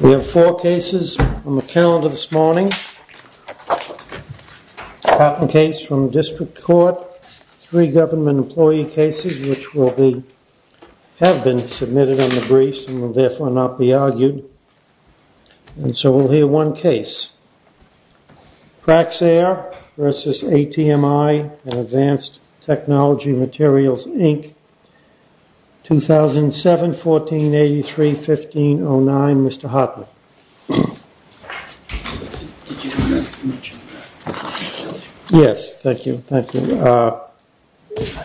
We have four cases on the calendar this morning. Patent case from district court, three government employee cases which will be, have been submitted on the briefs and will therefore not be argued. And so we'll hear one case. Praxair v. ATMI and Advanced Technology Materials, Inc. 2007, 1483, 1509. Mr. Hartman. Yes, thank you, thank you. I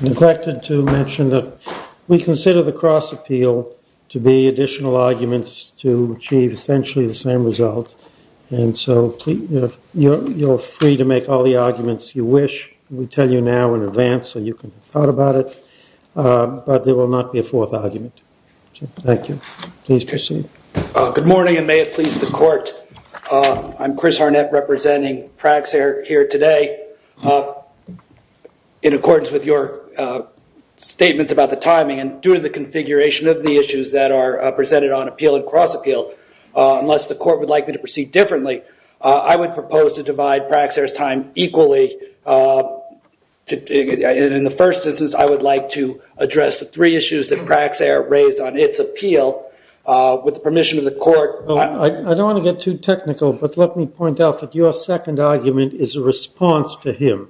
neglected to mention that we consider the cross appeal to be additional arguments to achieve essentially the same result. And so you're free to make all the arguments you wish. We tell you now in advance so you can have thought about it. But there will not be a fourth argument. Thank you. Please proceed. Good morning and may it please the court. I'm Chris Harnett representing Praxair here today. In accordance with your statements about the timing and due to the configuration of the issues that are presented on appeal and cross appeal, unless the court would like me to proceed differently, I would propose to divide Praxair's time equally. In the first instance, I would like to address the three issues that Praxair raised on its appeal. With the permission of the court. I don't want to get too technical, but let me point out that your second argument is a response to him,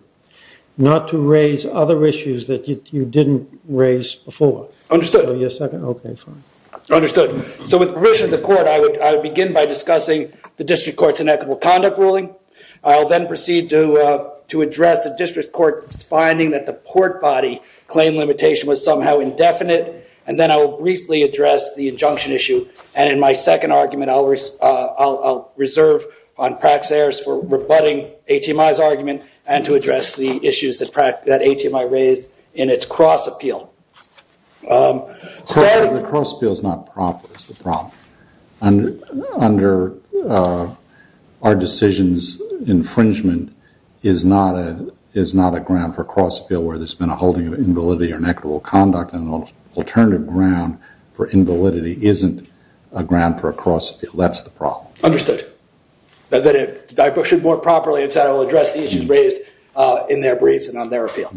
not to raise other issues that you didn't raise before. Understood. So you're second? Okay, fine. Understood. So with the permission of the court, I would begin by discussing the district court's inequitable conduct ruling. I'll then proceed to address the district court's finding that the port body claim limitation was somehow indefinite. And then I will briefly address the injunction issue. And in my second argument, I'll reserve on Praxair's for rebutting HMI's argument and to address the issues that HMI raised in its cross appeal. The cross appeal is not proper, is the problem. Under our decisions, infringement is not a ground for cross appeal where there's been a holding of invalidity or inequitable conduct and an alternative ground for invalidity isn't a ground for a cross appeal. That's the problem. Understood. Then if I push it more properly, I will address the issues raised in their briefs and on their appeal,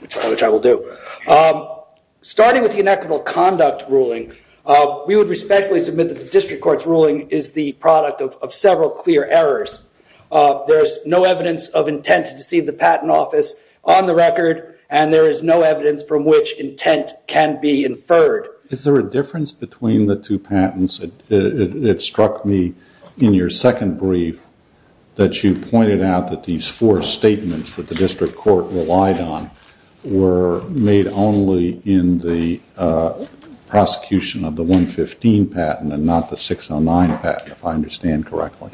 which I will do. Starting with the inequitable conduct ruling, we would respectfully submit that the district court's ruling is the product of several clear errors. There is no evidence of intent to deceive the patent office on the record, and there is no evidence from which intent can be inferred. Is there a difference between the two patents? It struck me in your second brief that you pointed out that these four statements that the district court relied on were made only in the prosecution of the 115 patent and not the 609 patent, if I understand correctly.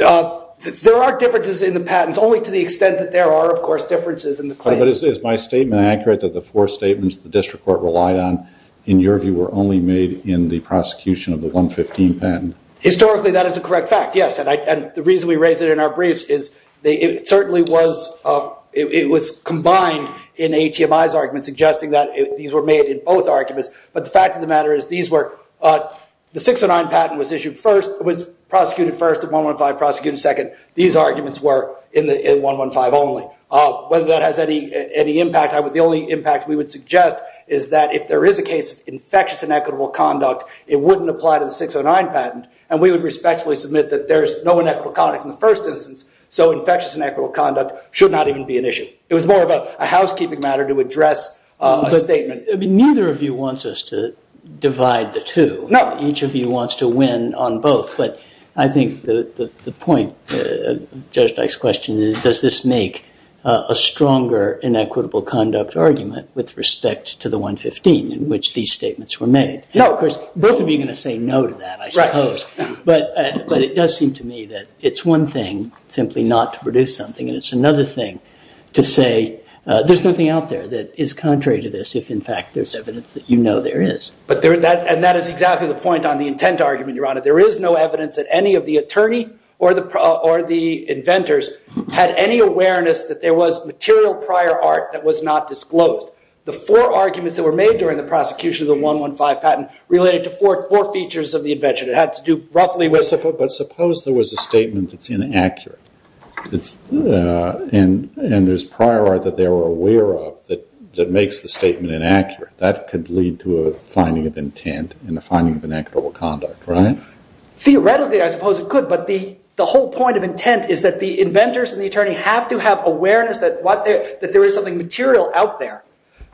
There are differences in the patents, only to the extent that there are, of course, differences in the claims. But is my statement accurate that the four statements the district court relied on, in your view, were only made in the prosecution of the 115 patent? Historically, that is a correct fact, yes. And the reason we raise it in our briefs is it certainly was combined in A.T.M.I.'s argument, suggesting that these were made in both arguments. But the fact of the matter is the 609 patent was prosecuted first, the 115 prosecuted second. These arguments were in 115 only. Whether that has any impact, the only impact we would suggest is that if there is a case of infectious inequitable conduct, it wouldn't apply to the 609 patent. And we would respectfully submit that there is no inequitable conduct in the first instance, so infectious inequitable conduct should not even be an issue. It was more of a housekeeping matter to address a statement. Neither of you wants us to divide the two. No. Each of you wants to win on both. But I think the point, Judge Dyke's question, is does this make a stronger inequitable conduct argument with respect to the 115 in which these statements were made? No. Of course, both of you are going to say no to that, I suppose. Right. But it does seem to me that it's one thing simply not to produce something, and it's another thing to say there's nothing out there that is contrary to this if, in fact, there's evidence that you know there is. And that is exactly the point on the intent argument, Your Honor. There is no evidence that any of the attorney or the inventors had any awareness that there was material prior art that was not disclosed. The four arguments that were made during the prosecution of the 115 patent related to four features of the invention. It had to do roughly with- But suppose there was a statement that's inaccurate, and there's prior art that they were aware of that makes the statement inaccurate. That could lead to a finding of intent and a finding of inequitable conduct, right? Theoretically, I suppose it could, but the whole point of intent is that the inventors and the attorney have to have awareness that there is something material out there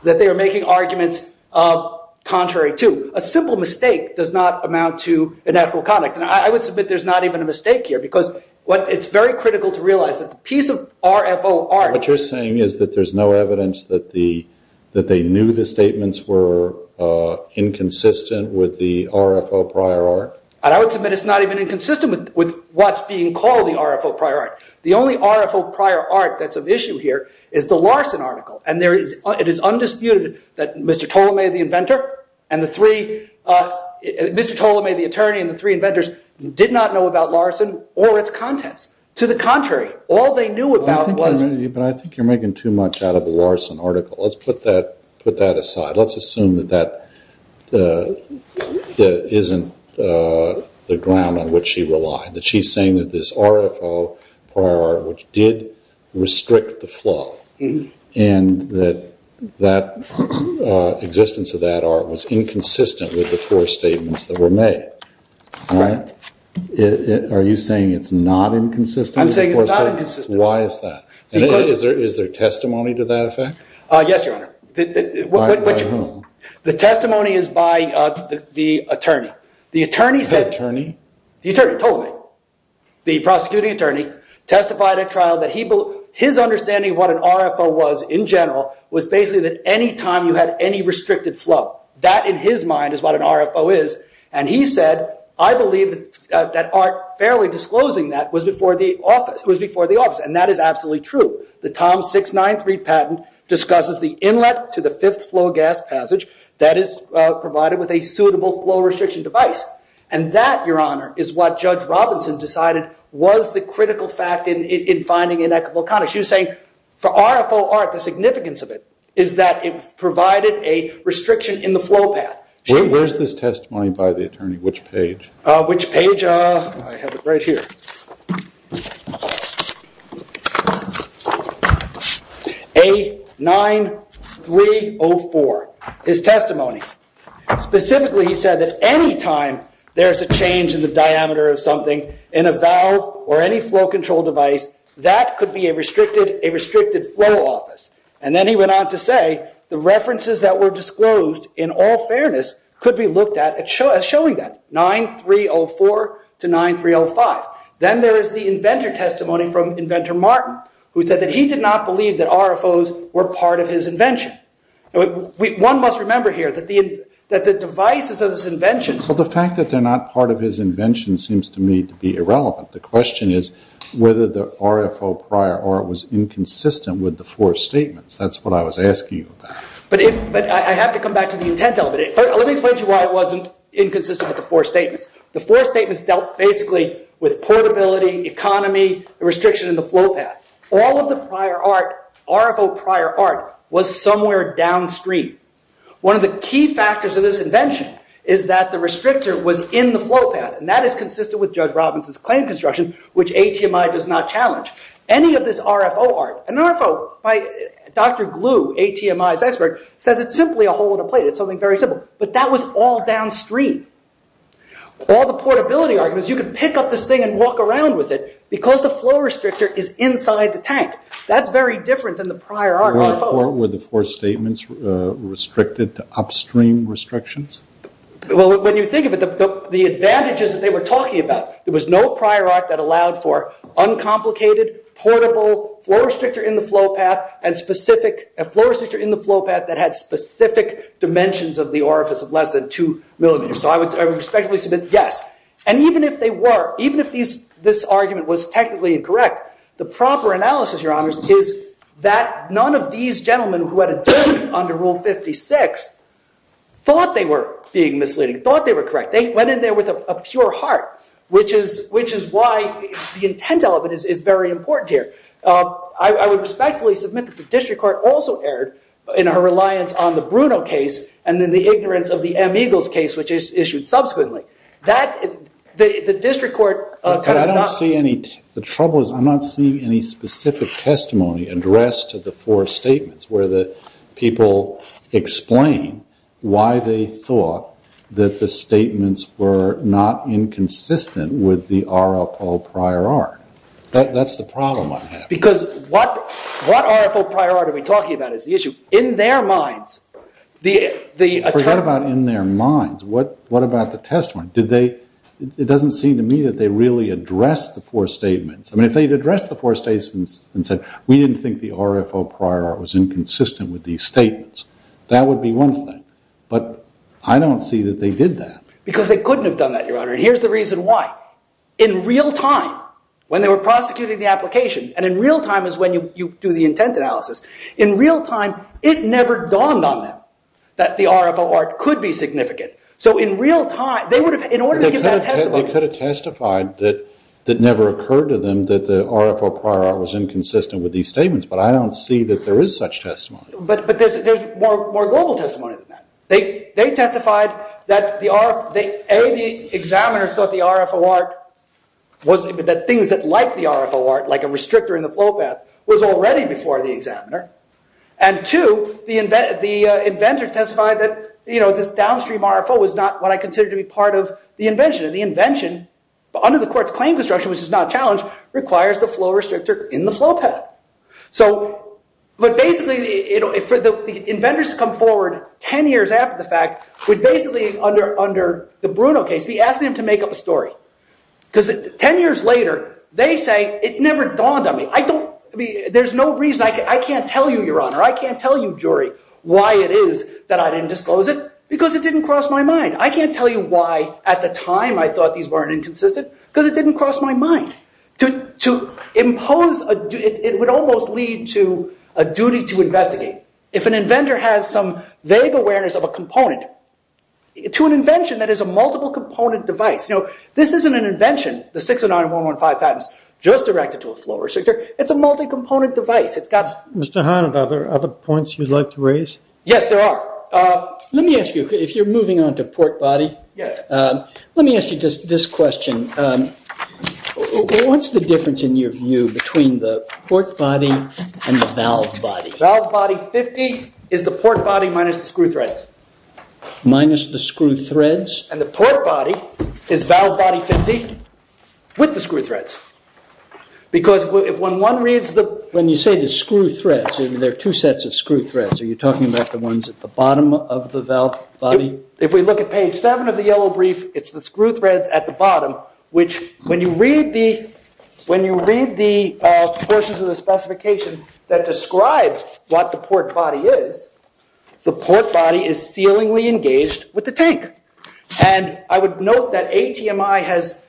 that they are making arguments contrary to. A simple mistake does not amount to inequitable conduct. And I would submit there's not even a mistake here because it's very critical to realize that the piece of RFO art- inconsistent with the RFO prior art. And I would submit it's not even inconsistent with what's being called the RFO prior art. The only RFO prior art that's of issue here is the Larson article. And it is undisputed that Mr. Ptolemy, the attorney, and the three inventors did not know about Larson or its contents. To the contrary, all they knew about was- But I think you're making too much out of the Larson article. Let's put that aside. Let's assume that that isn't the ground on which she relied. That she's saying that this RFO prior art, which did restrict the flow, and that the existence of that art was inconsistent with the four statements that were made. Right. Are you saying it's not inconsistent? I'm saying it's not inconsistent. Why is that? Is there testimony to that effect? Yes, Your Honor. By whom? The testimony is by the attorney. The attorney said- The attorney? The attorney, Ptolemy. The prosecuting attorney testified at trial that his understanding of what an RFO was in general was basically that any time you had any restricted flow, that in his mind is what an RFO is. And he said, I believe that art fairly disclosing that was before the office. And that is absolutely true. The Tom 693 patent discusses the inlet to the fifth flow gas passage that is provided with a suitable flow restriction device. And that, Your Honor, is what Judge Robinson decided was the critical fact in finding inequitable conduct. She was saying for RFO art, the significance of it is that it provided a restriction in the flow path. Where is this testimony by the attorney? Which page? Which page? I have it right here. A9304, his testimony. Specifically, he said that any time there is a change in the diameter of something in a valve or any flow control device, that could be a restricted flow office. And then he went on to say, the references that were disclosed in all fairness could be looked at as showing that, 9304 to 9305. Then there is the inventor testimony from Inventor Martin, who said that he did not believe that RFOs were part of his invention. One must remember here that the devices of his invention... Well, the fact that they're not part of his invention seems to me to be irrelevant. The question is whether the RFO prior art was inconsistent with the four statements. That's what I was asking you about. But I have to come back to the intent of it. Let me explain to you why it wasn't inconsistent with the four statements. The four statements dealt basically with portability, economy, the restriction in the flow path. All of the RFO prior art was somewhere downstream. One of the key factors of this invention is that the restrictor was in the flow path. And that is consistent with Judge Robinson's claim construction, which ATMI does not challenge. Any of this RFO art... An RFO by Dr. Glue, ATMI's expert, says it's simply a hole in a plate. It's something very simple. But that was all downstream. All the portability arguments, you could pick up this thing and walk around with it because the flow restrictor is inside the tank. That's very different than the prior art. Were the four statements restricted to upstream restrictions? Well, when you think of it, the advantages that they were talking about, there was no prior art that allowed for uncomplicated, portable, floor restrictor in the flow path that had specific dimensions of the orifice of less than two millimeters. So I would respectfully submit, yes. And even if they were, even if this argument was technically incorrect, the proper analysis, Your Honors, is that none of these gentlemen who had adjourned under Rule 56 thought they were being misleading, thought they were correct. They went in there with a pure heart, which is why the intent element is very important here. I would respectfully submit that the district court also erred in her reliance on the Bruno case and then the ignorance of the M. Eagles case, which is issued subsequently. The district court kind of not- But I don't see any, the trouble is I'm not seeing any specific testimony addressed to the four statements where the people explain why they thought that the statements were not inconsistent with the RFO prior art. That's the problem I have. Because what RFO prior art are we talking about is the issue. In their minds, the- Forget about in their minds. What about the testimony? It doesn't seem to me that they really addressed the four statements. I mean, if they had addressed the four statements and said, we didn't think the RFO prior art was inconsistent with these statements, that would be one thing. But I don't see that they did that. Because they couldn't have done that, Your Honor, and here's the reason why. In real time, when they were prosecuting the application, and in real time is when you do the intent analysis, in real time it never dawned on them that the RFO art could be significant. So in real time, they would have, in order to give that testimony- They could have testified that it never occurred to them that the RFO prior art was inconsistent with these statements, but I don't see that there is such testimony. But there's more global testimony than that. They testified that, A, the examiners thought the RFO art was- that things that liked the RFO art, like a restrictor in the flow path, was already before the examiner. And two, the inventor testified that this downstream RFO was not what I considered to be part of the invention. And the invention, under the court's claim construction, which is not challenged, requires the flow restrictor in the flow path. But basically, for the inventors to come forward 10 years after the fact, would basically, under the Bruno case, be asking them to make up a story. Because 10 years later, they say, it never dawned on me. I don't- there's no reason- I can't tell you, Your Honor, I can't tell you, jury, why it is that I didn't disclose it, because it didn't cross my mind. I can't tell you why, at the time, I thought these weren't inconsistent, because it didn't cross my mind. To impose- it would almost lead to a duty to investigate. If an inventor has some vague awareness of a component, to an invention that is a multiple-component device, you know, this isn't an invention, the 609-115 patents, just directed to a flow restrictor, it's a multi-component device. It's got- Mr. Hannan, are there other points you'd like to raise? Yes, there are. Let me ask you, if you're moving on to port body, let me ask you this question. What's the difference, in your view, between the port body and the valve body? Valve body, 50, is the port body minus the screw threads. Minus the screw threads? And the port body is valve body, 50, with the screw threads. Because when one reads the- When you say the screw threads, there are two sets of screw threads. Are you talking about the ones at the bottom of the valve body? If we look at page 7 of the yellow brief, it's the screw threads at the bottom, which, when you read the- When you read the portions of the specification that describe what the port body is, the port body is sealingly engaged with the tank. And I would note that ATMI has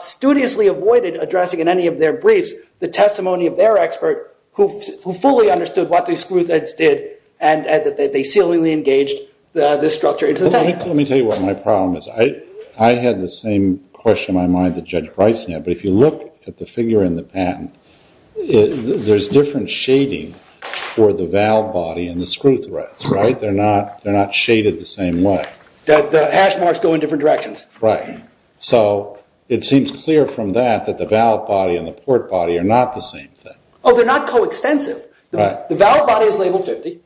studiously avoided addressing in any of their briefs the testimony of their expert, who fully understood what the screw threads did, and that they sealingly engaged this structure into the tank. Let me tell you what my problem is. I had the same question in my mind that Judge Bryson had, but if you look at the figure in the patent, there's different shading for the valve body and the screw threads, right? They're not shaded the same way. The hash marks go in different directions. Right. So it seems clear from that that the valve body and the port body are not the same thing. Oh, they're not coextensive. The valve body is labeled 50,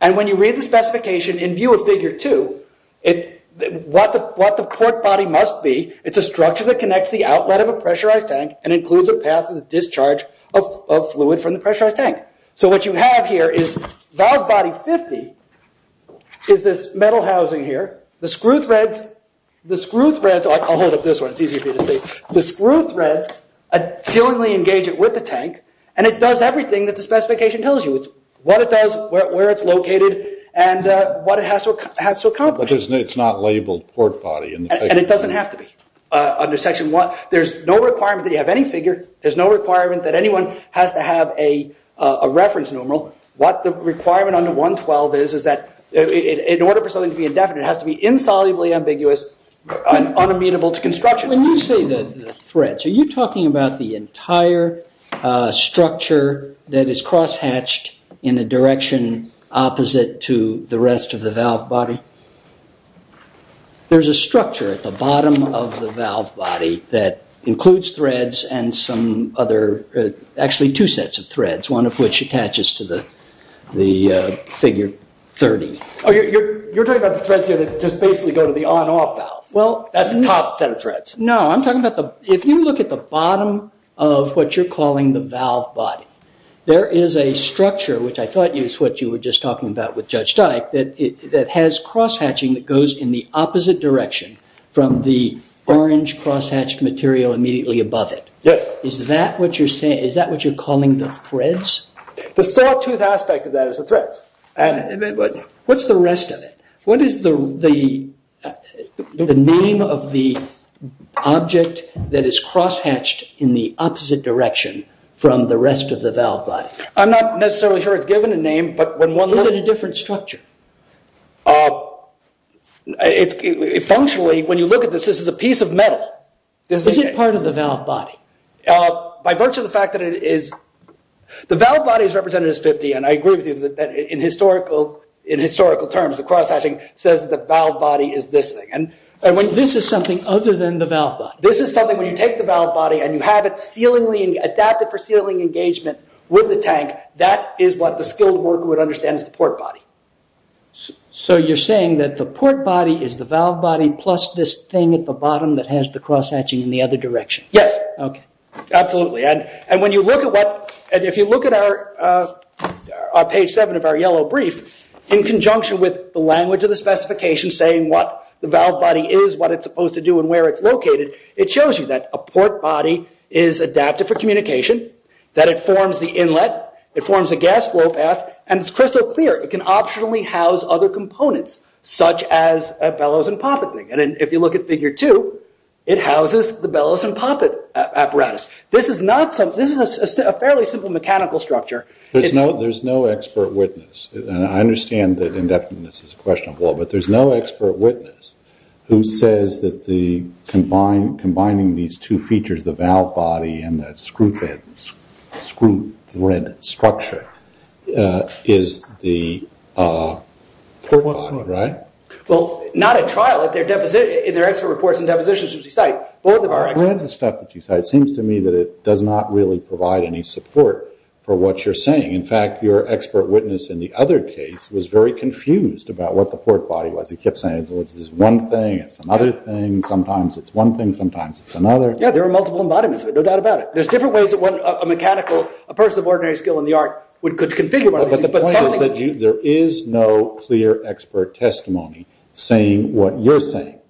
and when you read the specification in view of figure 2, what the port body must be, it's a structure that connects the outlet of a pressurized tank and includes a path of discharge of fluid from the pressurized tank. So what you have here is valve body 50 is this metal housing here. The screw threads- I'll hold up this one. It's easier for you to see. The screw threads sealingly engage it with the tank, and it does everything that the specification tells you. So it's what it does, where it's located, and what it has to accomplish. But it's not labeled port body. And it doesn't have to be. Under Section 1, there's no requirement that you have any figure. There's no requirement that anyone has to have a reference numeral. What the requirement under 112 is, is that in order for something to be indefinite, it has to be insolubly ambiguous, unamenable to construction. When you say the threads, are you talking about the entire structure that is cross-hatched in a direction opposite to the rest of the valve body? There's a structure at the bottom of the valve body that includes threads and some other- actually, two sets of threads, one of which attaches to the figure 30. Oh, you're talking about the threads here that just basically go to the on-off valve. That's the top set of threads. No, I'm talking about the- if you look at the bottom of what you're calling the valve body, there is a structure, which I thought is what you were just talking about with Judge Dyke, that has cross-hatching that goes in the opposite direction from the orange cross-hatched material immediately above it. Is that what you're saying- is that what you're calling the threads? The sawtooth aspect of that is the threads. What's the rest of it? What is the name of the object that is cross-hatched in the opposite direction from the rest of the valve body? I'm not necessarily sure it's given a name, but when one looks- Is it a different structure? Functionally, when you look at this, this is a piece of metal. Is it part of the valve body? By virtue of the fact that it is- the valve body is represented as 50, and I agree with you that in historical terms the cross-hatching says that the valve body is this thing. This is something other than the valve body? This is something when you take the valve body and you have it adapted for sealing engagement with the tank, that is what the skilled worker would understand as the port body. You're saying that the port body is the valve body plus this thing at the bottom that has the cross-hatching in the other direction? Yes. Absolutely. If you look at page 7 of our yellow brief, in conjunction with the language of the specification saying what the valve body is, what it's supposed to do, and where it's located, it shows you that a port body is adapted for communication, that it forms the inlet, it forms a gas flow path, and it's crystal clear. It can optionally house other components, such as a bellows and poppet thing. If you look at figure 2, it houses the bellows and poppet apparatus. This is a fairly simple mechanical structure. There's no expert witness, and I understand that indefiniteness is a question of law, but there's no expert witness who says that combining these two features, the valve body and the screw thread structure, is the port body, right? Well, not at trial. In their expert reports and depositions, which you cite, both of our experts... The stuff that you cite seems to me that it does not really provide any support for what you're saying. In fact, your expert witness in the other case was very confused about what the port body was. He kept saying, well, it's this one thing, it's another thing, sometimes it's one thing, sometimes it's another. Yeah, there are multiple embodiments of it, no doubt about it. There's different ways that a person of ordinary skill in the art could configure one of these. But the point is that there is no clear expert testimony saying what you're saying,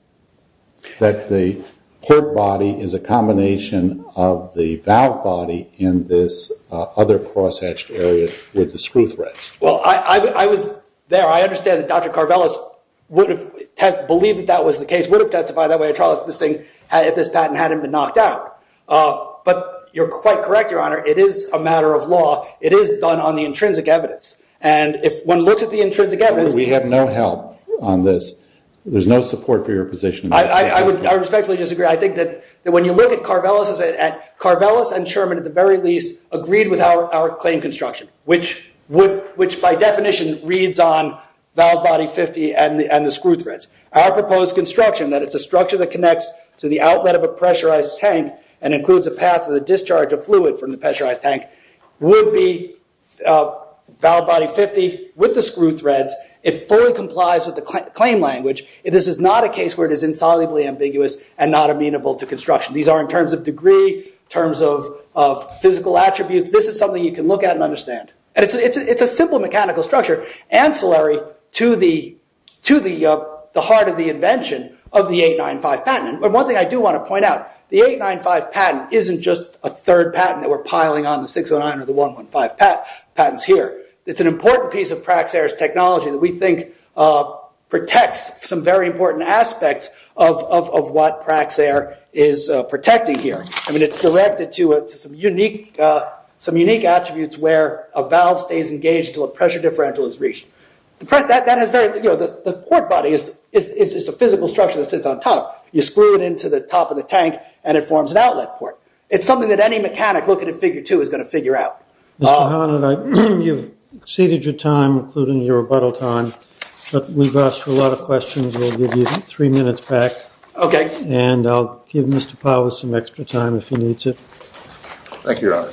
that the port body is a combination of the valve body and this other cross-hatched area with the screw threads. Well, I was there. I understand that Dr. Karvelas would have believed that that was the case, would have testified that way at trial, if this patent hadn't been knocked out. But you're quite correct, Your Honor. It is a matter of law. It is done on the intrinsic evidence. And if one looks at the intrinsic evidence... We have no help on this. There's no support for your position. I respectfully disagree. I think that when you look at Karvelas, Karvelas and Sherman, at the very least, agreed with our claim construction, which by definition reads on valve body 50 and the screw threads. Our proposed construction, that it's a structure that connects to the outlet of a pressurized tank and includes a path to the discharge of fluid from the pressurized tank, would be valve body 50 with the screw threads. It fully complies with the claim language. This is not a case where it is insolubly ambiguous and not amenable to construction. These are in terms of degree, in terms of physical attributes. This is something you can look at and understand. It's a simple mechanical structure, ancillary to the heart of the invention of the 895 patent. One thing I do want to point out, the 895 patent isn't just a third patent that we're piling on the 609 or the 115 patents here. It's an important piece of Praxair's technology that we think protects some very important aspects of what Praxair is protecting here. It's directed to some unique attributes where a valve stays engaged until a pressure differential is reached. The port body is a physical structure that sits on top. You screw it into the top of the tank and it forms an outlet port. It's something that any mechanic looking at figure two is going to figure out. Mr. Hannan, you've exceeded your time, including your rebuttal time, but we've asked a lot of questions. We'll give you three minutes back, and I'll give Mr. Powell some extra time if he needs it. Thank you, Your Honor.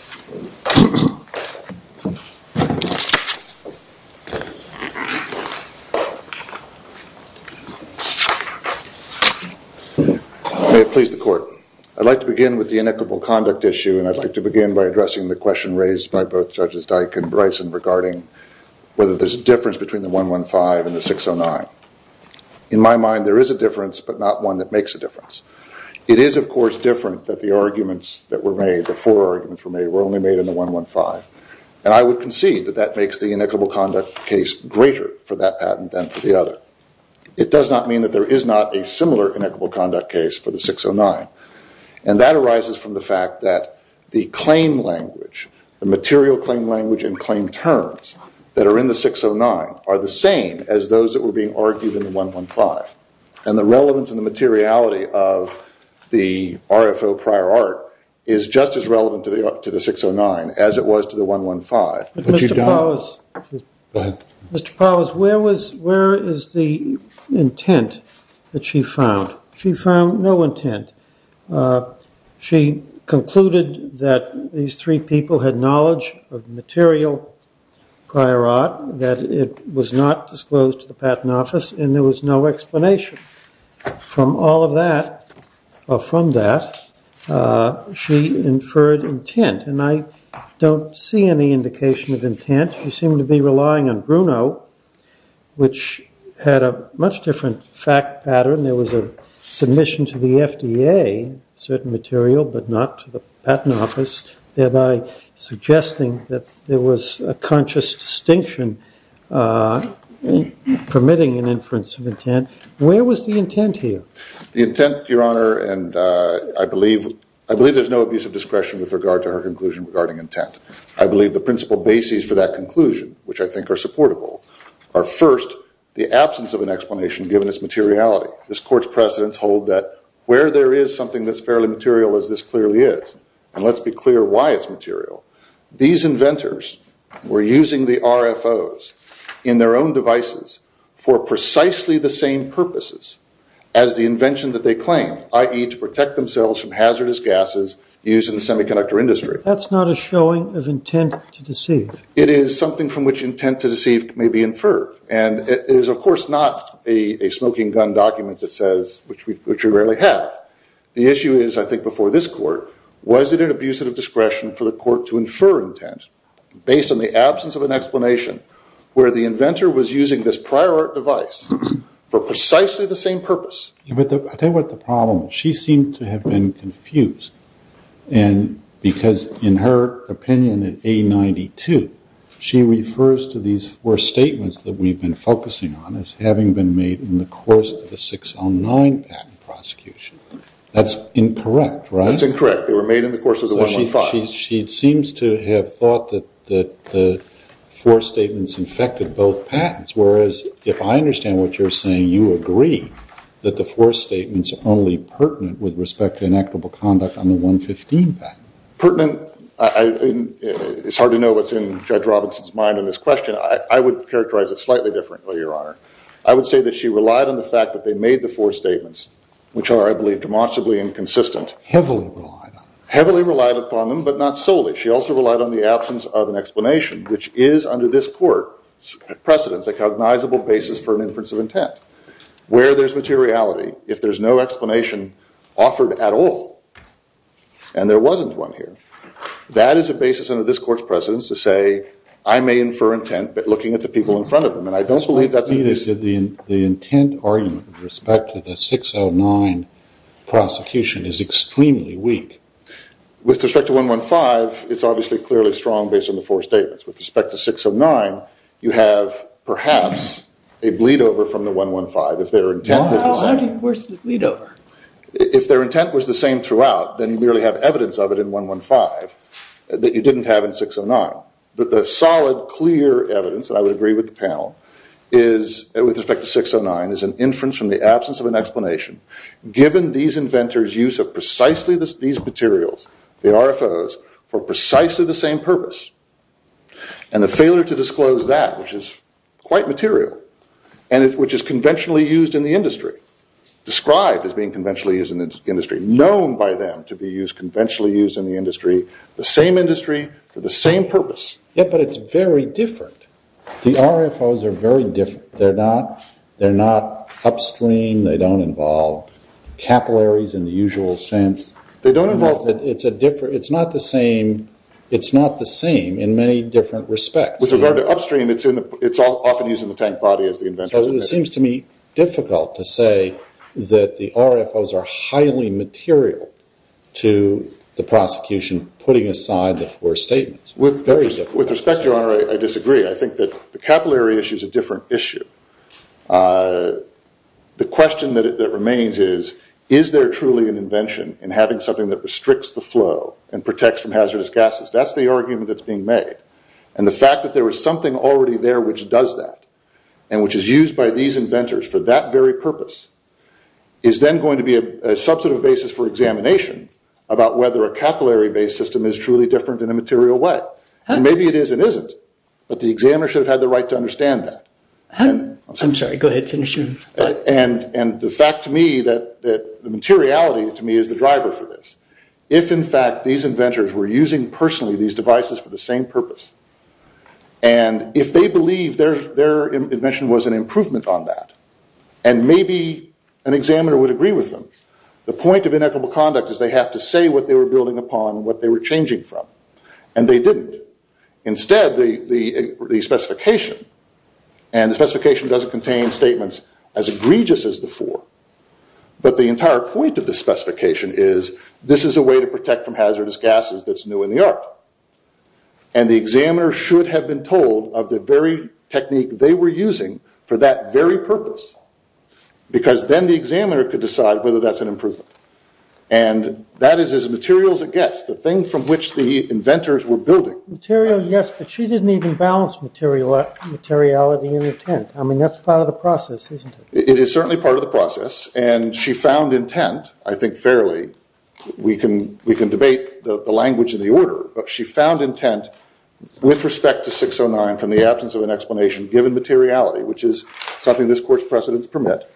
May it please the Court. I'd like to begin with the inequitable conduct issue, and I'd like to begin by addressing the question raised by both Judges Dyke and Bryson regarding whether there's a difference between the 115 and the 609. In my mind, there is a difference, but not one that makes a difference. It is, of course, different that the arguments that were made, the four arguments that were made, were only made in the 115, and I would concede that that makes the inequitable conduct case greater for that patent than for the other. It does not mean that there is not a similar inequitable conduct case for the 609, and that arises from the fact that the claim language, the material claim language and claim terms that are in the 609 are the same as those that were being argued in the 115, and the relevance and the materiality of the RFO prior art is just as relevant to the 609 as it was to the 115. Mr. Powell, where is the intent that she found? She found no intent. She concluded that these three people had knowledge of material prior art, that it was not disclosed to the Patent Office, and there was no explanation. From all of that, or from that, she inferred intent, and I don't see any indication of intent. You seem to be relying on Bruno, which had a much different fact pattern. There was a submission to the FDA, certain material, but not to the Patent Office, thereby suggesting that there was a conscious distinction permitting an inference of intent. Where was the intent here? The intent, Your Honor, and I believe there's no abuse of discretion with regard to her conclusion regarding intent. I believe the principal bases for that conclusion, which I think are supportable, are first, the absence of an explanation given its materiality. This Court's precedents hold that where there is something that's fairly material as this clearly is, and let's be clear why it's material, these inventors were using the RFOs in their own devices for precisely the same purposes as the invention that they claim, i.e., to protect themselves from hazardous gases used in the semiconductor industry. That's not a showing of intent to deceive. It is something from which intent to deceive may be inferred, and it is, of course, not a smoking gun document that says, which we rarely have. The issue is, I think, before this Court, was it an abuse of discretion for the Court to infer intent based on the absence of an explanation where the inventor was using this prior art device for precisely the same purpose? I'll tell you what the problem is. She seemed to have been confused, because in her opinion in A92, she refers to these four statements that we've been focusing on as having been made in the course of the 609 patent prosecution. That's incorrect, right? That's incorrect. They were made in the course of the 115. She seems to have thought that the four statements infected both patents, whereas if I understand what you're saying, you agree that the four statements are only pertinent with respect to inactable conduct on the 115 patent. Pertinent? It's hard to know what's in Judge Robinson's mind on this question. I would characterize it slightly differently, Your Honor. I would say that she relied on the fact that they made the four statements, which are, I believe, demonstrably inconsistent. Heavily relied on them. Heavily relied upon them, but not solely. She also relied on the absence of an explanation, which is under this Court's precedence a cognizable basis for an inference of intent. Where there's materiality, if there's no explanation offered at all, and there wasn't one here, that is a basis under this Court's precedence to say, I may infer intent by looking at the people in front of them. And I don't believe that's... The intent argument with respect to the 609 prosecution is extremely weak. With respect to 115, it's obviously clearly strong based on the four statements. With respect to 609, you have, perhaps, a bleed-over from the 115 if their intent was the same. How do you force the bleed-over? If their intent was the same throughout, then you merely have evidence of it in 115 that you didn't have in 609. The solid, clear evidence, and I would agree with the panel, with respect to 609, is an inference from the absence of an explanation given these inventors' use of precisely these materials, the RFOs, for precisely the same purpose. And the failure to disclose that, which is quite material, and which is conventionally used in the industry, described as being conventionally used in the industry, known by them to be conventionally used in the industry, the same industry for the same purpose. Yeah, but it's very different. The RFOs are very different. They're not upstream. They don't involve capillaries in the usual sense. They don't involve... It's not the same. It's not the same in many different respects. With regard to upstream, it's often used in the tank body as the inventors... So it seems to me difficult to say that the RFOs are highly material to the prosecution putting aside the four statements. Very difficult. With respect, Your Honor, I disagree. I think that the capillary issue is a different issue. The question that remains is, is there truly an invention in having something that restricts the flow and protects from hazardous gases? That's the argument that's being made. And the fact that there is something already there which does that, and which is used by these inventors for that very purpose, is then going to be a substantive basis for examination about whether a capillary-based system is truly different in a material way. Maybe it is and isn't, but the examiner should have had the right to understand that. I'm sorry. Go ahead. Finish your... And the fact to me that... The materiality to me is the driver for this. If, in fact, these inventors were using personally these devices for the same purpose, and if they believe their invention was an improvement on that, and maybe an examiner would agree with them, the point of inequitable conduct is they have to say what they were building upon and what they were changing from, and they didn't. Instead, the specification, and the specification doesn't contain statements as egregious as the four, but the entire point of the specification is, this is a way to protect from hazardous gases that's new in the art. And the examiner should have been told of the very technique they were using for that very purpose, because then the examiner could decide whether that's an improvement. And that is as material as it gets, the thing from which the inventors were building. Material, yes, but she didn't even balance materiality and intent. I mean, that's part of the process, isn't it? It is certainly part of the process, and she found intent, I think, fairly. We can debate the language of the order, but she found intent with respect to 609 from the absence of an explanation, given materiality, which is something this court's precedents permit.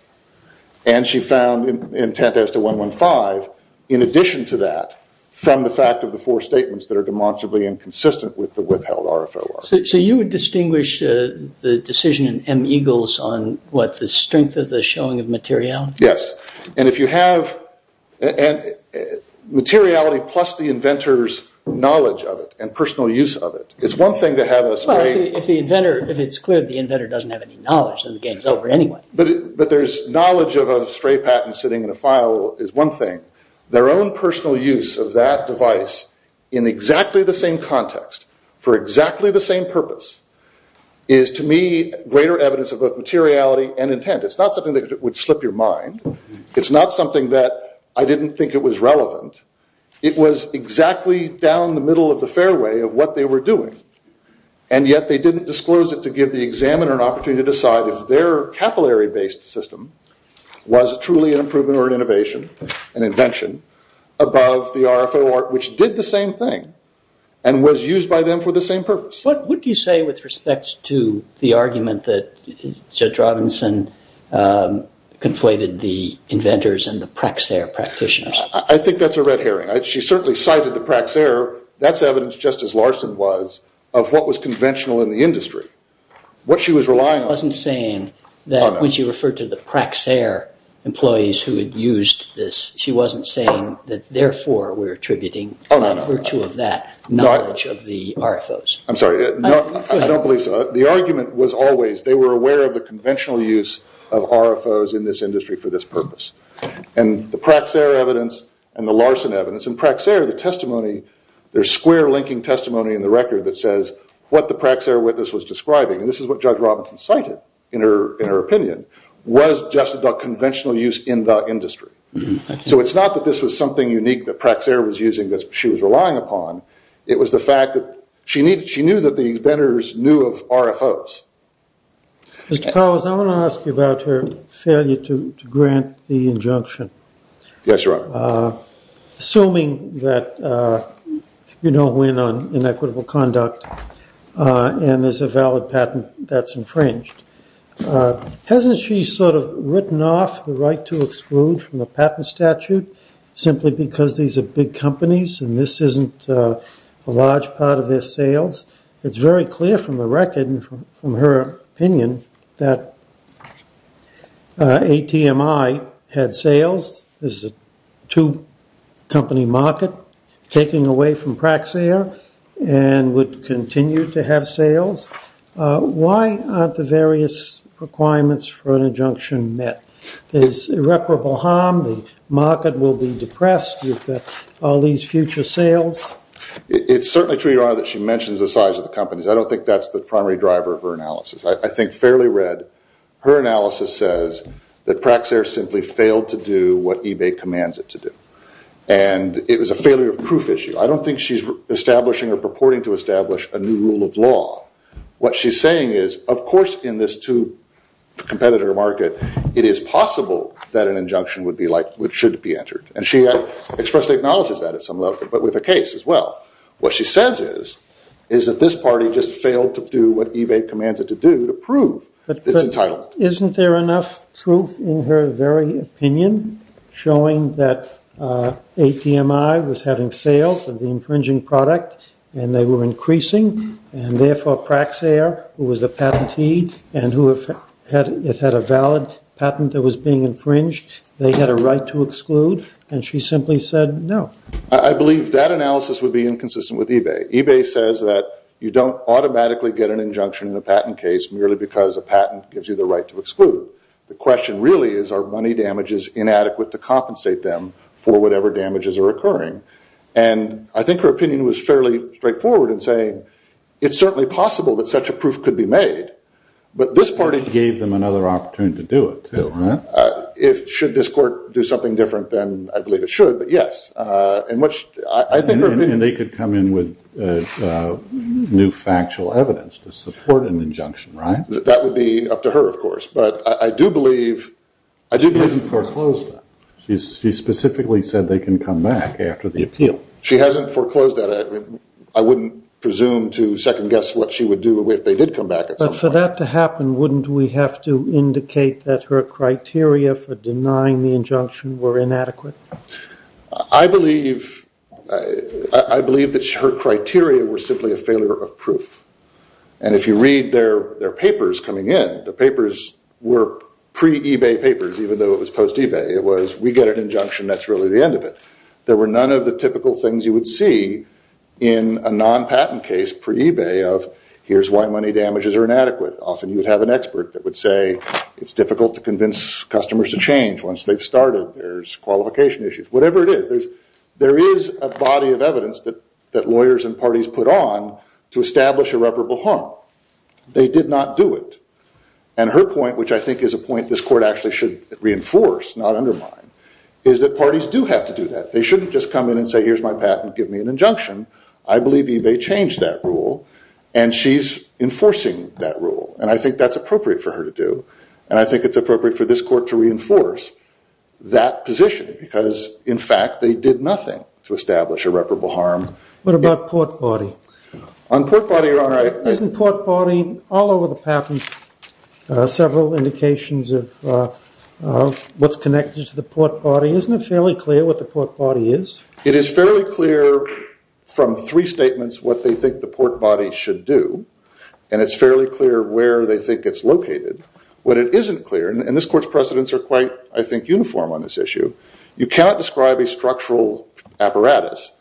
And she found intent as to 115, in addition to that, from the fact of the four statements that are demonstrably inconsistent with the withheld RFOR. So you would distinguish the decision in M. Eagles on, what, the strength of the showing of materiality? Yes, and if you have... Materiality plus the inventor's knowledge of it and personal use of it. It's one thing to have a stray... Well, if it's clear the inventor doesn't have any knowledge, then the game's over anyway. But there's knowledge of a stray patent sitting in a file is one thing. Their own personal use of that device in exactly the same context for exactly the same purpose is, to me, greater evidence of both materiality and intent. It's not something that would slip your mind. It's not something that I didn't think it was relevant. It was exactly down the middle of the fairway of what they were doing. And yet they didn't disclose it to give the examiner an opportunity to decide if their capillary-based system was truly an improvement or an innovation, an invention, above the RFOR, which did the same thing and was used by them for the same purpose. What would you say with respect to the argument that Judge Robinson conflated the inventors and the Praxair practitioners? I think that's a red herring. She certainly cited the Praxair. That's evidence, just as Larson was, of what was conventional in the industry, what she was relying on. She wasn't saying that when she referred to the Praxair employees who had used this, she wasn't saying that therefore we're attributing, by virtue of that, knowledge of the RFOs. I'm sorry. I don't believe so. The argument was always they were aware of the conventional use of RFOs in this industry for this purpose. And the Praxair evidence and the Larson evidence, and Praxair, the testimony, their square-linking testimony in the record that says what the Praxair witness was describing, and this is what Judge Robinson cited in her opinion, was just the conventional use in the industry. So it's not that this was something unique that Praxair was using that she was relying upon. It was the fact that she knew that the inventors knew of RFOs. Mr. Powers, I want to ask you about her failure to grant the injunction. Assuming that you don't win on inequitable conduct and there's a valid patent that's infringed. Hasn't she sort of written off the right to exclude from the patent statute simply because these are big companies and this isn't a large part of their sales? It's very clear from the her opinion that ATMI had sales. This is a two-company market taking away from Praxair and would continue to have sales. Why aren't the various requirements for an injunction met? There's irreparable harm. The market will be depressed with all these future sales. It's certainly true, Your Honor, that she mentions the size of the companies. I don't think that's the primary driver of her analysis. I think fairly read, her analysis says that Praxair simply failed to do what eBay commands it to do. It was a failure of proof issue. I don't think she's establishing or purporting to establish a new rule of law. What she's saying is, of course in this two-competitor market it is possible that an injunction should be entered. She expressly acknowledges that but with a case as well. What she says is that this party just failed to do what eBay commands it to do to prove it's entitled. Isn't there enough truth in her very opinion showing that ATMI was having sales of the infringing product and they were increasing and therefore Praxair, who was the patentee and who had a valid patent that was being infringed, they had a right to exclude and she simply said no. I believe that analysis would be inconsistent with eBay. eBay says that you don't automatically get an injunction in a patent case merely because a patent gives you the right to exclude. The question really is are money damages inadequate to compensate them for whatever damages are occurring. I think her opinion was fairly straightforward in saying it's certainly possible that such a proof could be made but this party gave them another opportunity to do it too. Should this court do something different then I believe it should but yes. And they could come in with new factual evidence to support an injunction right? That would be up to her of course but I do believe She hasn't foreclosed that. She specifically said they can come back after the appeal. She hasn't foreclosed that. I wouldn't presume to second guess what she would do if they did come back. But for that to happen wouldn't we have to indicate that her criteria for denying the injunction were inadequate? I believe that her criteria were simply a failure of proof. And if you read their papers coming in the papers were pre-eBay papers even though it was post-eBay. It was we get an injunction that's really the end of it. There were none of the typical things you would see in a non-patent case pre-eBay of here's why money damages are inadequate. Often you would have an expert that would say it's difficult to convince customers to change once they've started. There's qualification issues. Whatever it is there is a body of evidence that lawyers and parties put on to establish irreparable harm. They did not do it. And her point which I think is a point this court actually should reinforce not undermine is that parties do have to do that. They shouldn't just come in and say here's eBay changed that rule and she's enforcing that rule and I think that's appropriate for her to do and I think it's appropriate for this court to reinforce that position because in fact they did nothing to establish irreparable harm. What about Port Body? On Port Body Your Honor I... Isn't Port Body all over the patent several indications of what's connected to the Port Body. Isn't it fairly clear what the Port Body is? It is fairly clear from three statements what they think the Port Body should do and it's fairly clear where they think it's located. What it isn't clear and this court's precedents are quite I think uniform on this issue. You cannot describe a structural apparatus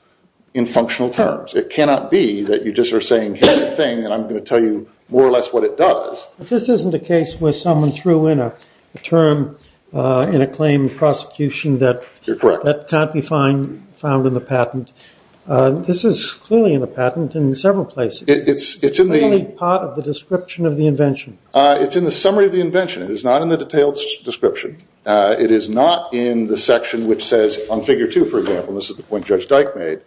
in functional terms. It cannot be that you just are saying here's the thing and I'm going to tell you more or less what it does. But this isn't a case where someone threw in a term in a claim prosecution that can't be found in the patent. This is clearly in the patent in several places. It's in the... Part of the description of the invention. It's in the summary of the invention. It is not in the detailed description. It is not in the section which says on Figure 2 for example, and this is the point Judge Dyke made,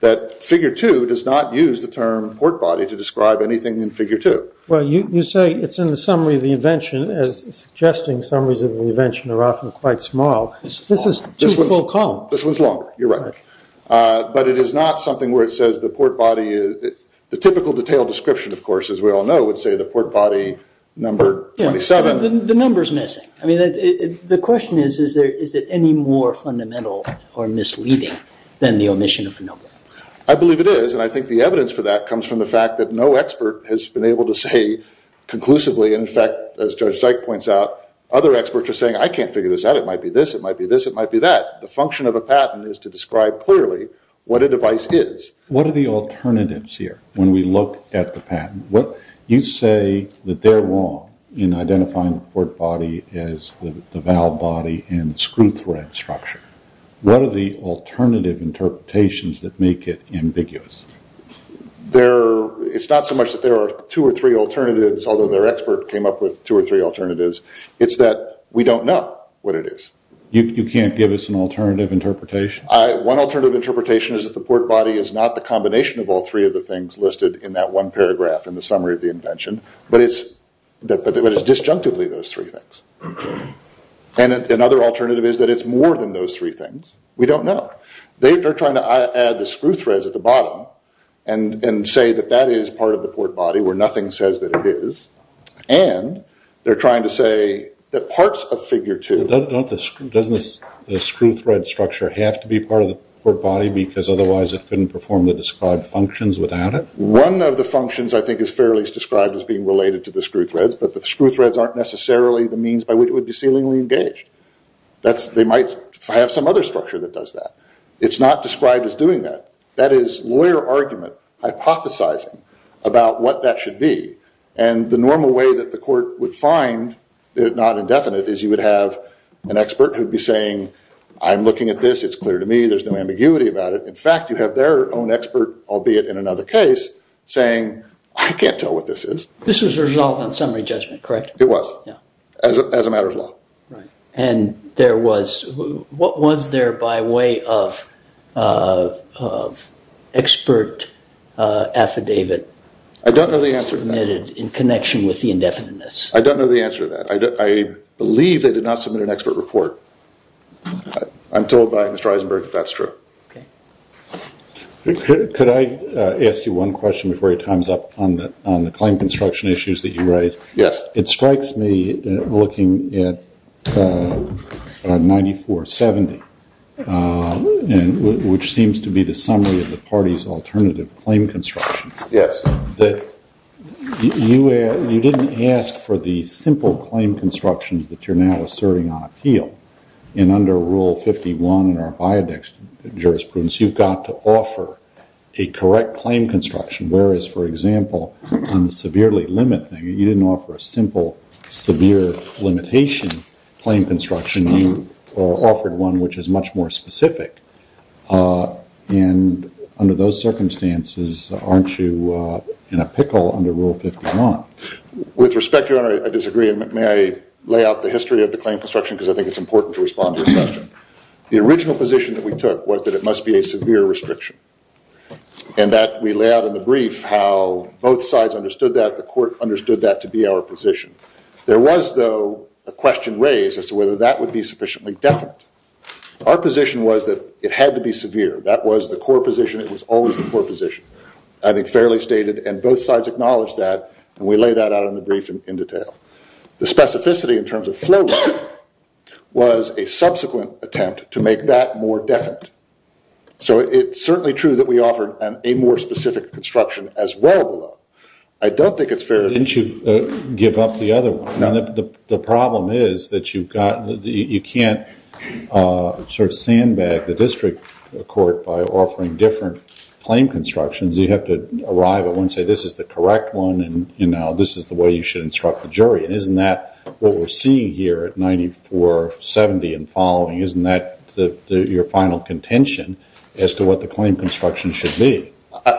that Figure 2 does not use the term Port Body to describe anything in Figure 2. Well you say it's in the summary of the invention as suggesting summaries of the invention are often quite small. This is too full column. This one's longer. You're right. But it is not something where it says the Port Body the typical detailed description of course as we all know would say the Port Body number 27. The number's missing. I mean the question is, is it any more fundamental or misleading than the omission of the number? I believe it is and I think the evidence for that comes from the fact that no expert has been able to say conclusively and in fact as Judge Dyke points out, other experts are saying I can't figure this out. It might be this. It might be this. It might be that. The function of a patent is to describe clearly what a device is. What are the alternatives here when we look at the patent? You say that they're wrong in identifying the Port Body as the valve body and the screw thread structure. What are the alternative interpretations that make it ambiguous? It's not so much that there are two or three alternatives although their expert came up with two or three alternatives. It's that we don't know what it is. You can't give us an alternative interpretation? One alternative interpretation is that the Port Body is not the combination of all three of the things listed in that one paragraph in the summary of the invention but it's disjunctively those three things. Another alternative is that it's more than those three things. We don't know. They are trying to add the screw threads at the bottom and say that that is part of the Port Body where nothing says that it is and they're trying to say that parts of figure two... Doesn't the screw thread structure have to be part of the Port Body because otherwise it couldn't perform the described functions without it? One of the functions I think is fairly described as being related to the screw threads but the screw threads aren't necessarily the means by which it would be sealingly engaged. They might have some other structure that does that. It's not described as doing that. That is lawyer argument hypothesizing about what that should be and the normal way that the law is indefinite is you would have an expert who would be saying I'm looking at this, it's clear to me, there's no ambiguity about it. In fact you have their own expert albeit in another case saying I can't tell what this is. This was resolved on summary judgment, correct? It was. As a matter of law. And there was what was there by way of expert affidavit? I don't know the answer to that. In connection with the indefiniteness. I don't know the answer to that. I believe they did not submit an expert report. I'm told by Mr. Eisenberg that that's true. Could I ask you one question before he times up on the claim construction issues that you raised? Yes. It strikes me looking at 9470 which seems to be the summary of the party's alternative claim constructions. Yes. You didn't ask for the simple claim constructions that you're now asserting on appeal and under Rule 51 in our biodex jurisprudence you've got to offer a correct claim construction whereas for example on the severely limited you didn't offer a simple severe limitation claim construction, you offered one which is much more specific and under those circumstances aren't you in a pickle under Rule 51? With respect Your Honor I disagree and may I lay out the history of the claim construction because I think it's important to respond to your question. The original position that we took was that it must be a severe restriction and that we lay out in the brief how both sides understood that, the court understood that to be our position. There was though a question raised as to whether that would be sufficiently definite. Our position was that it had to be always the poor position. I think fairly stated and both sides acknowledged that and we lay that out in the brief in detail. The specificity in terms of flow was a subsequent attempt to make that more definite. So it's certainly true that we offered a more specific construction as well. I don't think it's fair. Didn't you give up the other one? The problem is that you've got you can't sort of sandbag the district court by offering different claim constructions. You have to arrive at one and say this is the correct one and this is the way you should instruct the jury. Isn't that what we're seeing here at 9470 and following? Isn't that your final contention as to what the claim construction should be?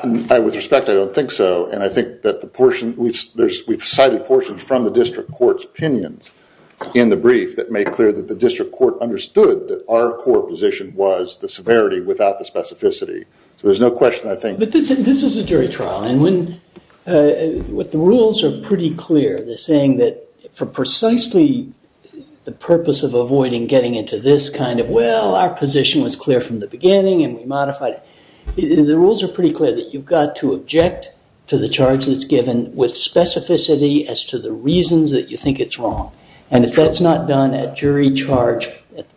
With respect, I don't think so. I think that the portion, we've cited portions from the district court's opinions in the brief that make clear that the district court understood that our core position was the severity without the specificity. So there's no question, I think... This is a jury trial and the rules are pretty clear. They're saying that for precisely the purpose of avoiding getting into this kind of, well, our position was clear from the beginning and we modified it. The rules are pretty clear that you've got to object to the charge that's given with specificity as to the reasons that you think it's wrong. And if that's not done at jury charge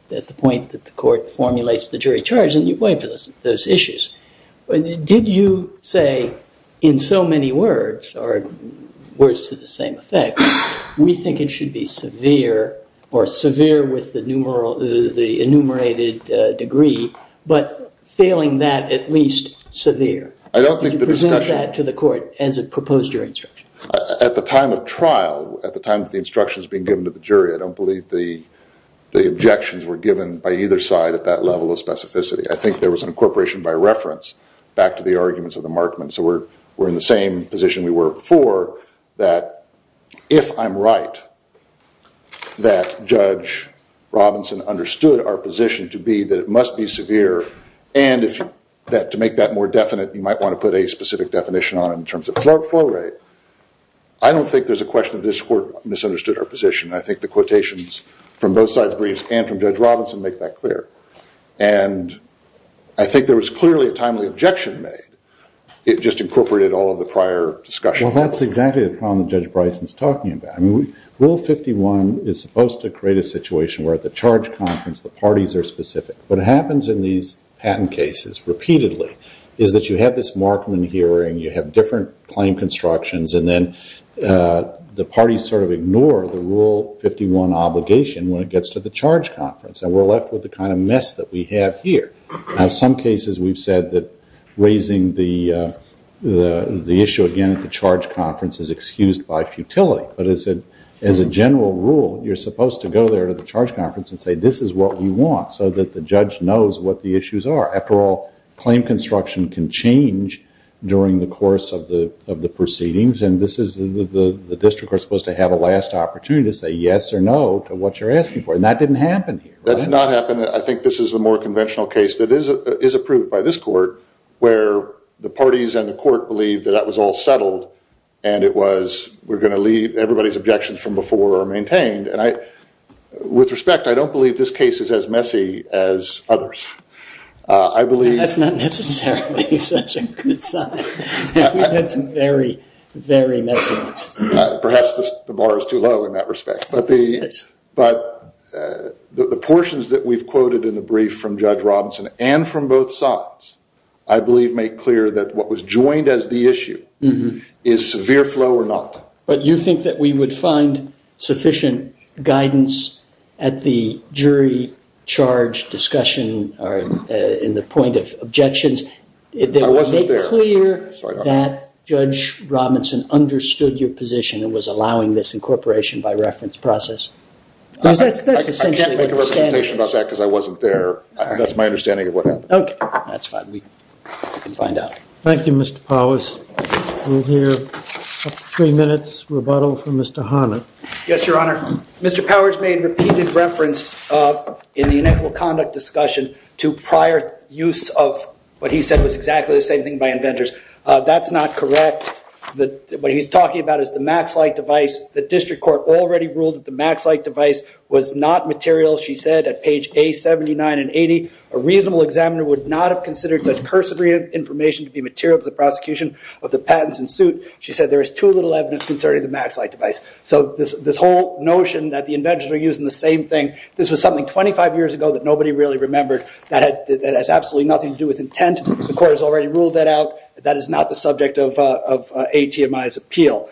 at the point that the court formulates the jury charge, then you've waived those issues. Did you say in so many words or words to the same effect, we think it should be severe or severe with the enumerated degree, but failing that at least severe? I don't think the discussion... Did you present that to the court as a proposed jury instruction? At the time of trial, at the time of the instructions being given to the jury, I don't believe the objections were given by either side at that level of specificity. I think there was an incorporation by reference back to the arguments of the Markman. So we're in the same position we were before that if I'm right that Judge Robinson understood our position to be that it must be severe and to make that more definite you might want to put a specific definition on it in terms of flow rate. I don't think there's a question that this court misunderstood our position. I think the quotations from both sides and from Judge Robinson make that clear. And I think there was clearly a timely objection made. It just incorporated all of the prior discussion. Well, that's exactly the problem that Judge Bryson's talking about. Rule 51 is supposed to create a situation where at the charge conference the parties are specific. What happens in these patent cases repeatedly is that you have this Markman hearing, you have different claim constructions and then the parties sort of ignore the Rule 51 obligation when it gets to the charge conference. And we're left with the kind of mess that we have here. Now in some cases we've said that raising the issue again at the charge conference is excused by futility. But as a general rule, you're supposed to go there to the charge conference and say this is what we want so that the judge knows what the issues are. After all, claim construction can change during the course of the proceedings. And this is the district we're supposed to have a last opportunity to say yes or no to what you're asking for. And that didn't happen here. That did not happen. I think this is the more conventional case that is approved by this court where the parties and the court believe that that was all settled and it was we're going to leave everybody's objections from before are maintained. And with respect, I don't believe this case is as messy as others. That's not necessarily such a good sign. We've had some very, very messy ones. Perhaps the bar is too low in that respect. But the portions that we've quoted in the brief from Judge Robinson and from both sides I believe make clear that what was joined as the issue is severe flow or not. But you think that we would find sufficient guidance at the jury charge discussion in the point of objections. Make clear that Judge Robinson understood your position and was allowing this incorporation by reference process. I can't make a representation about that because I wasn't there. That's my understanding of what happened. Thank you, Mr. Powers. We'll hear three minutes rebuttal from Mr. Harnett. Yes, Your Honor. Mr. Powers made repeated reference in the inequal conduct discussion to prior use of what he said was exactly the same thing by inventors. That's not correct. What he's talking about is the MaxLight device. The district court already ruled that the MaxLight device was not material. She said at page A79 and 80, a reasonable examiner would not have considered such cursory information to be material for the prosecution of the patents in suit. She said there is too little evidence concerning the MaxLight device. So this whole notion that the inventors were using the same thing, this was something 25 years ago that nobody really remembered that has absolutely nothing to do with intent. The court has already ruled that out. That is not the subject of A.T.M.I.'s appeal.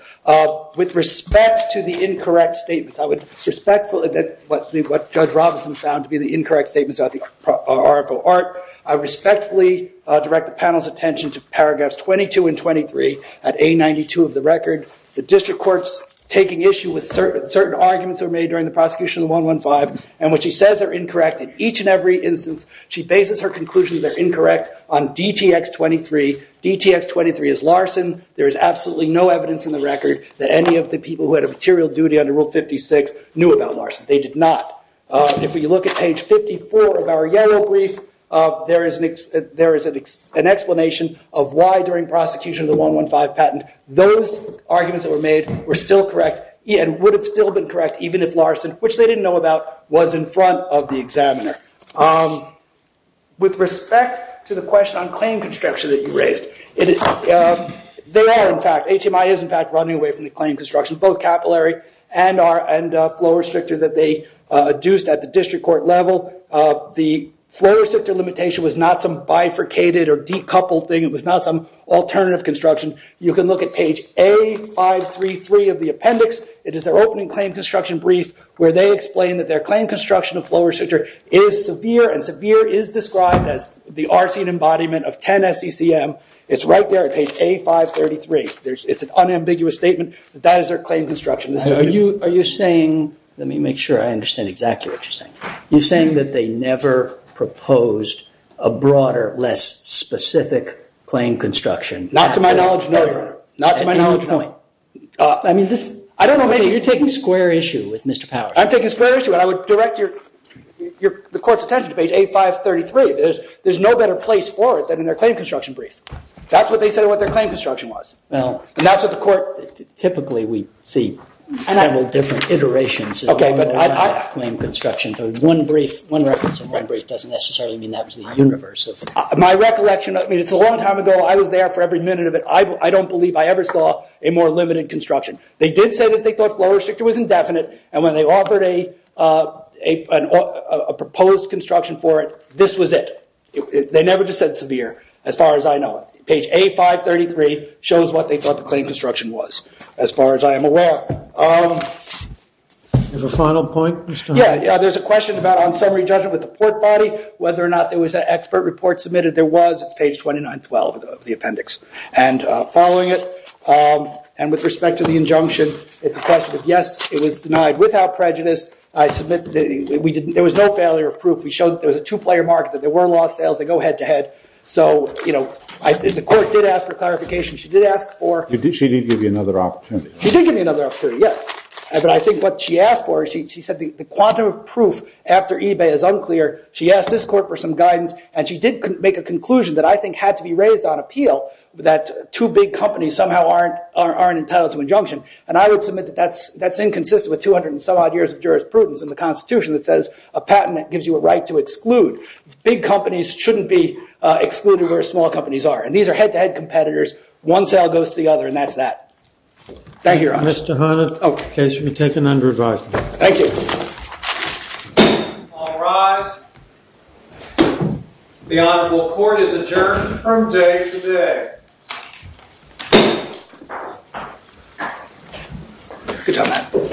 With respect to the incorrect statements, I would respectfully what Judge Robinson found to be the incorrect statements about the Oracle Art, I respectfully direct the panel's attention to paragraphs 22 and 23 at A92 of the record. The district court's taking issue with certain arguments that were made during the prosecution of the 115, and what she says are incorrect in each and every instance, she bases her conclusions that are incorrect on DTX 23. DTX 23 is Larson. There is absolutely no evidence in the record that any of the people who had a material duty under Rule 56 knew about Larson. They did not. If we look at page 54 of our general brief, there is an explanation of why during prosecution of the 115 patent, those arguments that were made were still correct and would have still been correct even if Larson, which they didn't know about, was in front of the examiner. With respect to the question on claim construction that you raised, A.T.M.I. is in fact running away from the claim construction, both capillary and flow restrictor that they adduced at the district court level. The flow restrictor limitation was not some bifurcated or decoupled thing. It was not some alternative construction. You can look at page A533 of the appendix. It is their opening claim construction brief where they explain that their claim construction of flow restrictor is severe and severe is described as the RC and embodiment of 10 SECM. It's right there at page A533. It's an unambiguous statement that that is their claim construction. Are you saying, let me make sure I understand exactly what you're saying. You're saying that they never proposed a broader, less specific claim construction? Not to my knowledge, no, Your Honor. You're taking square issue with Mr. Powers. I'm taking square issue, and I would direct the court's attention to page A533. There's no better place for it than in their claim construction brief. That's what they said what their claim construction was. And that's what the court typically we see several different iterations of claim construction. So one brief, one reference and one brief doesn't necessarily mean that was the universe. My recollection is a long time ago, I was there for every minute of it. I don't believe I ever saw a more limited construction. They did say that they thought flow restrictor was indefinite, and when they offered a proposed construction for it, this was it. They never just said severe, as far as I know. Page A533 shows what they thought the claim construction was, as far as I am aware. Is there a final point? Yeah, there's a question about on summary judgment with the port body, whether or not there was an expert report submitted. There was. It's page 2912 of the appendix. And following it, and with respect to the injunction, it's a question of yes, it was denied without prejudice. I submit that there was no failure of proof. We showed that there was a two-player market, that there were lost sales that go head to head. So, you know, the court did ask for clarification. She did ask for... She did give you another opportunity. She did give me another opportunity, yes. But I think what she asked for, she said the quantum of proof after eBay is unclear. She asked this court for some guidance, and she did make a conclusion that I think had to be raised on appeal, that two big companies somehow aren't entitled to injunction. And I would submit that that's inconsistent with 200 and some odd years of jurisprudence in the Constitution that says a patent gives you a right to exclude. Big companies shouldn't be excluded where small companies are. And these are head-to-head competitors. One sale goes to the other, and that's that. Thank you, Your Honor. Mr. Hunter, the case will be taken under advisement. Thank you. All rise. The Honorable Court is adjourned from day to day.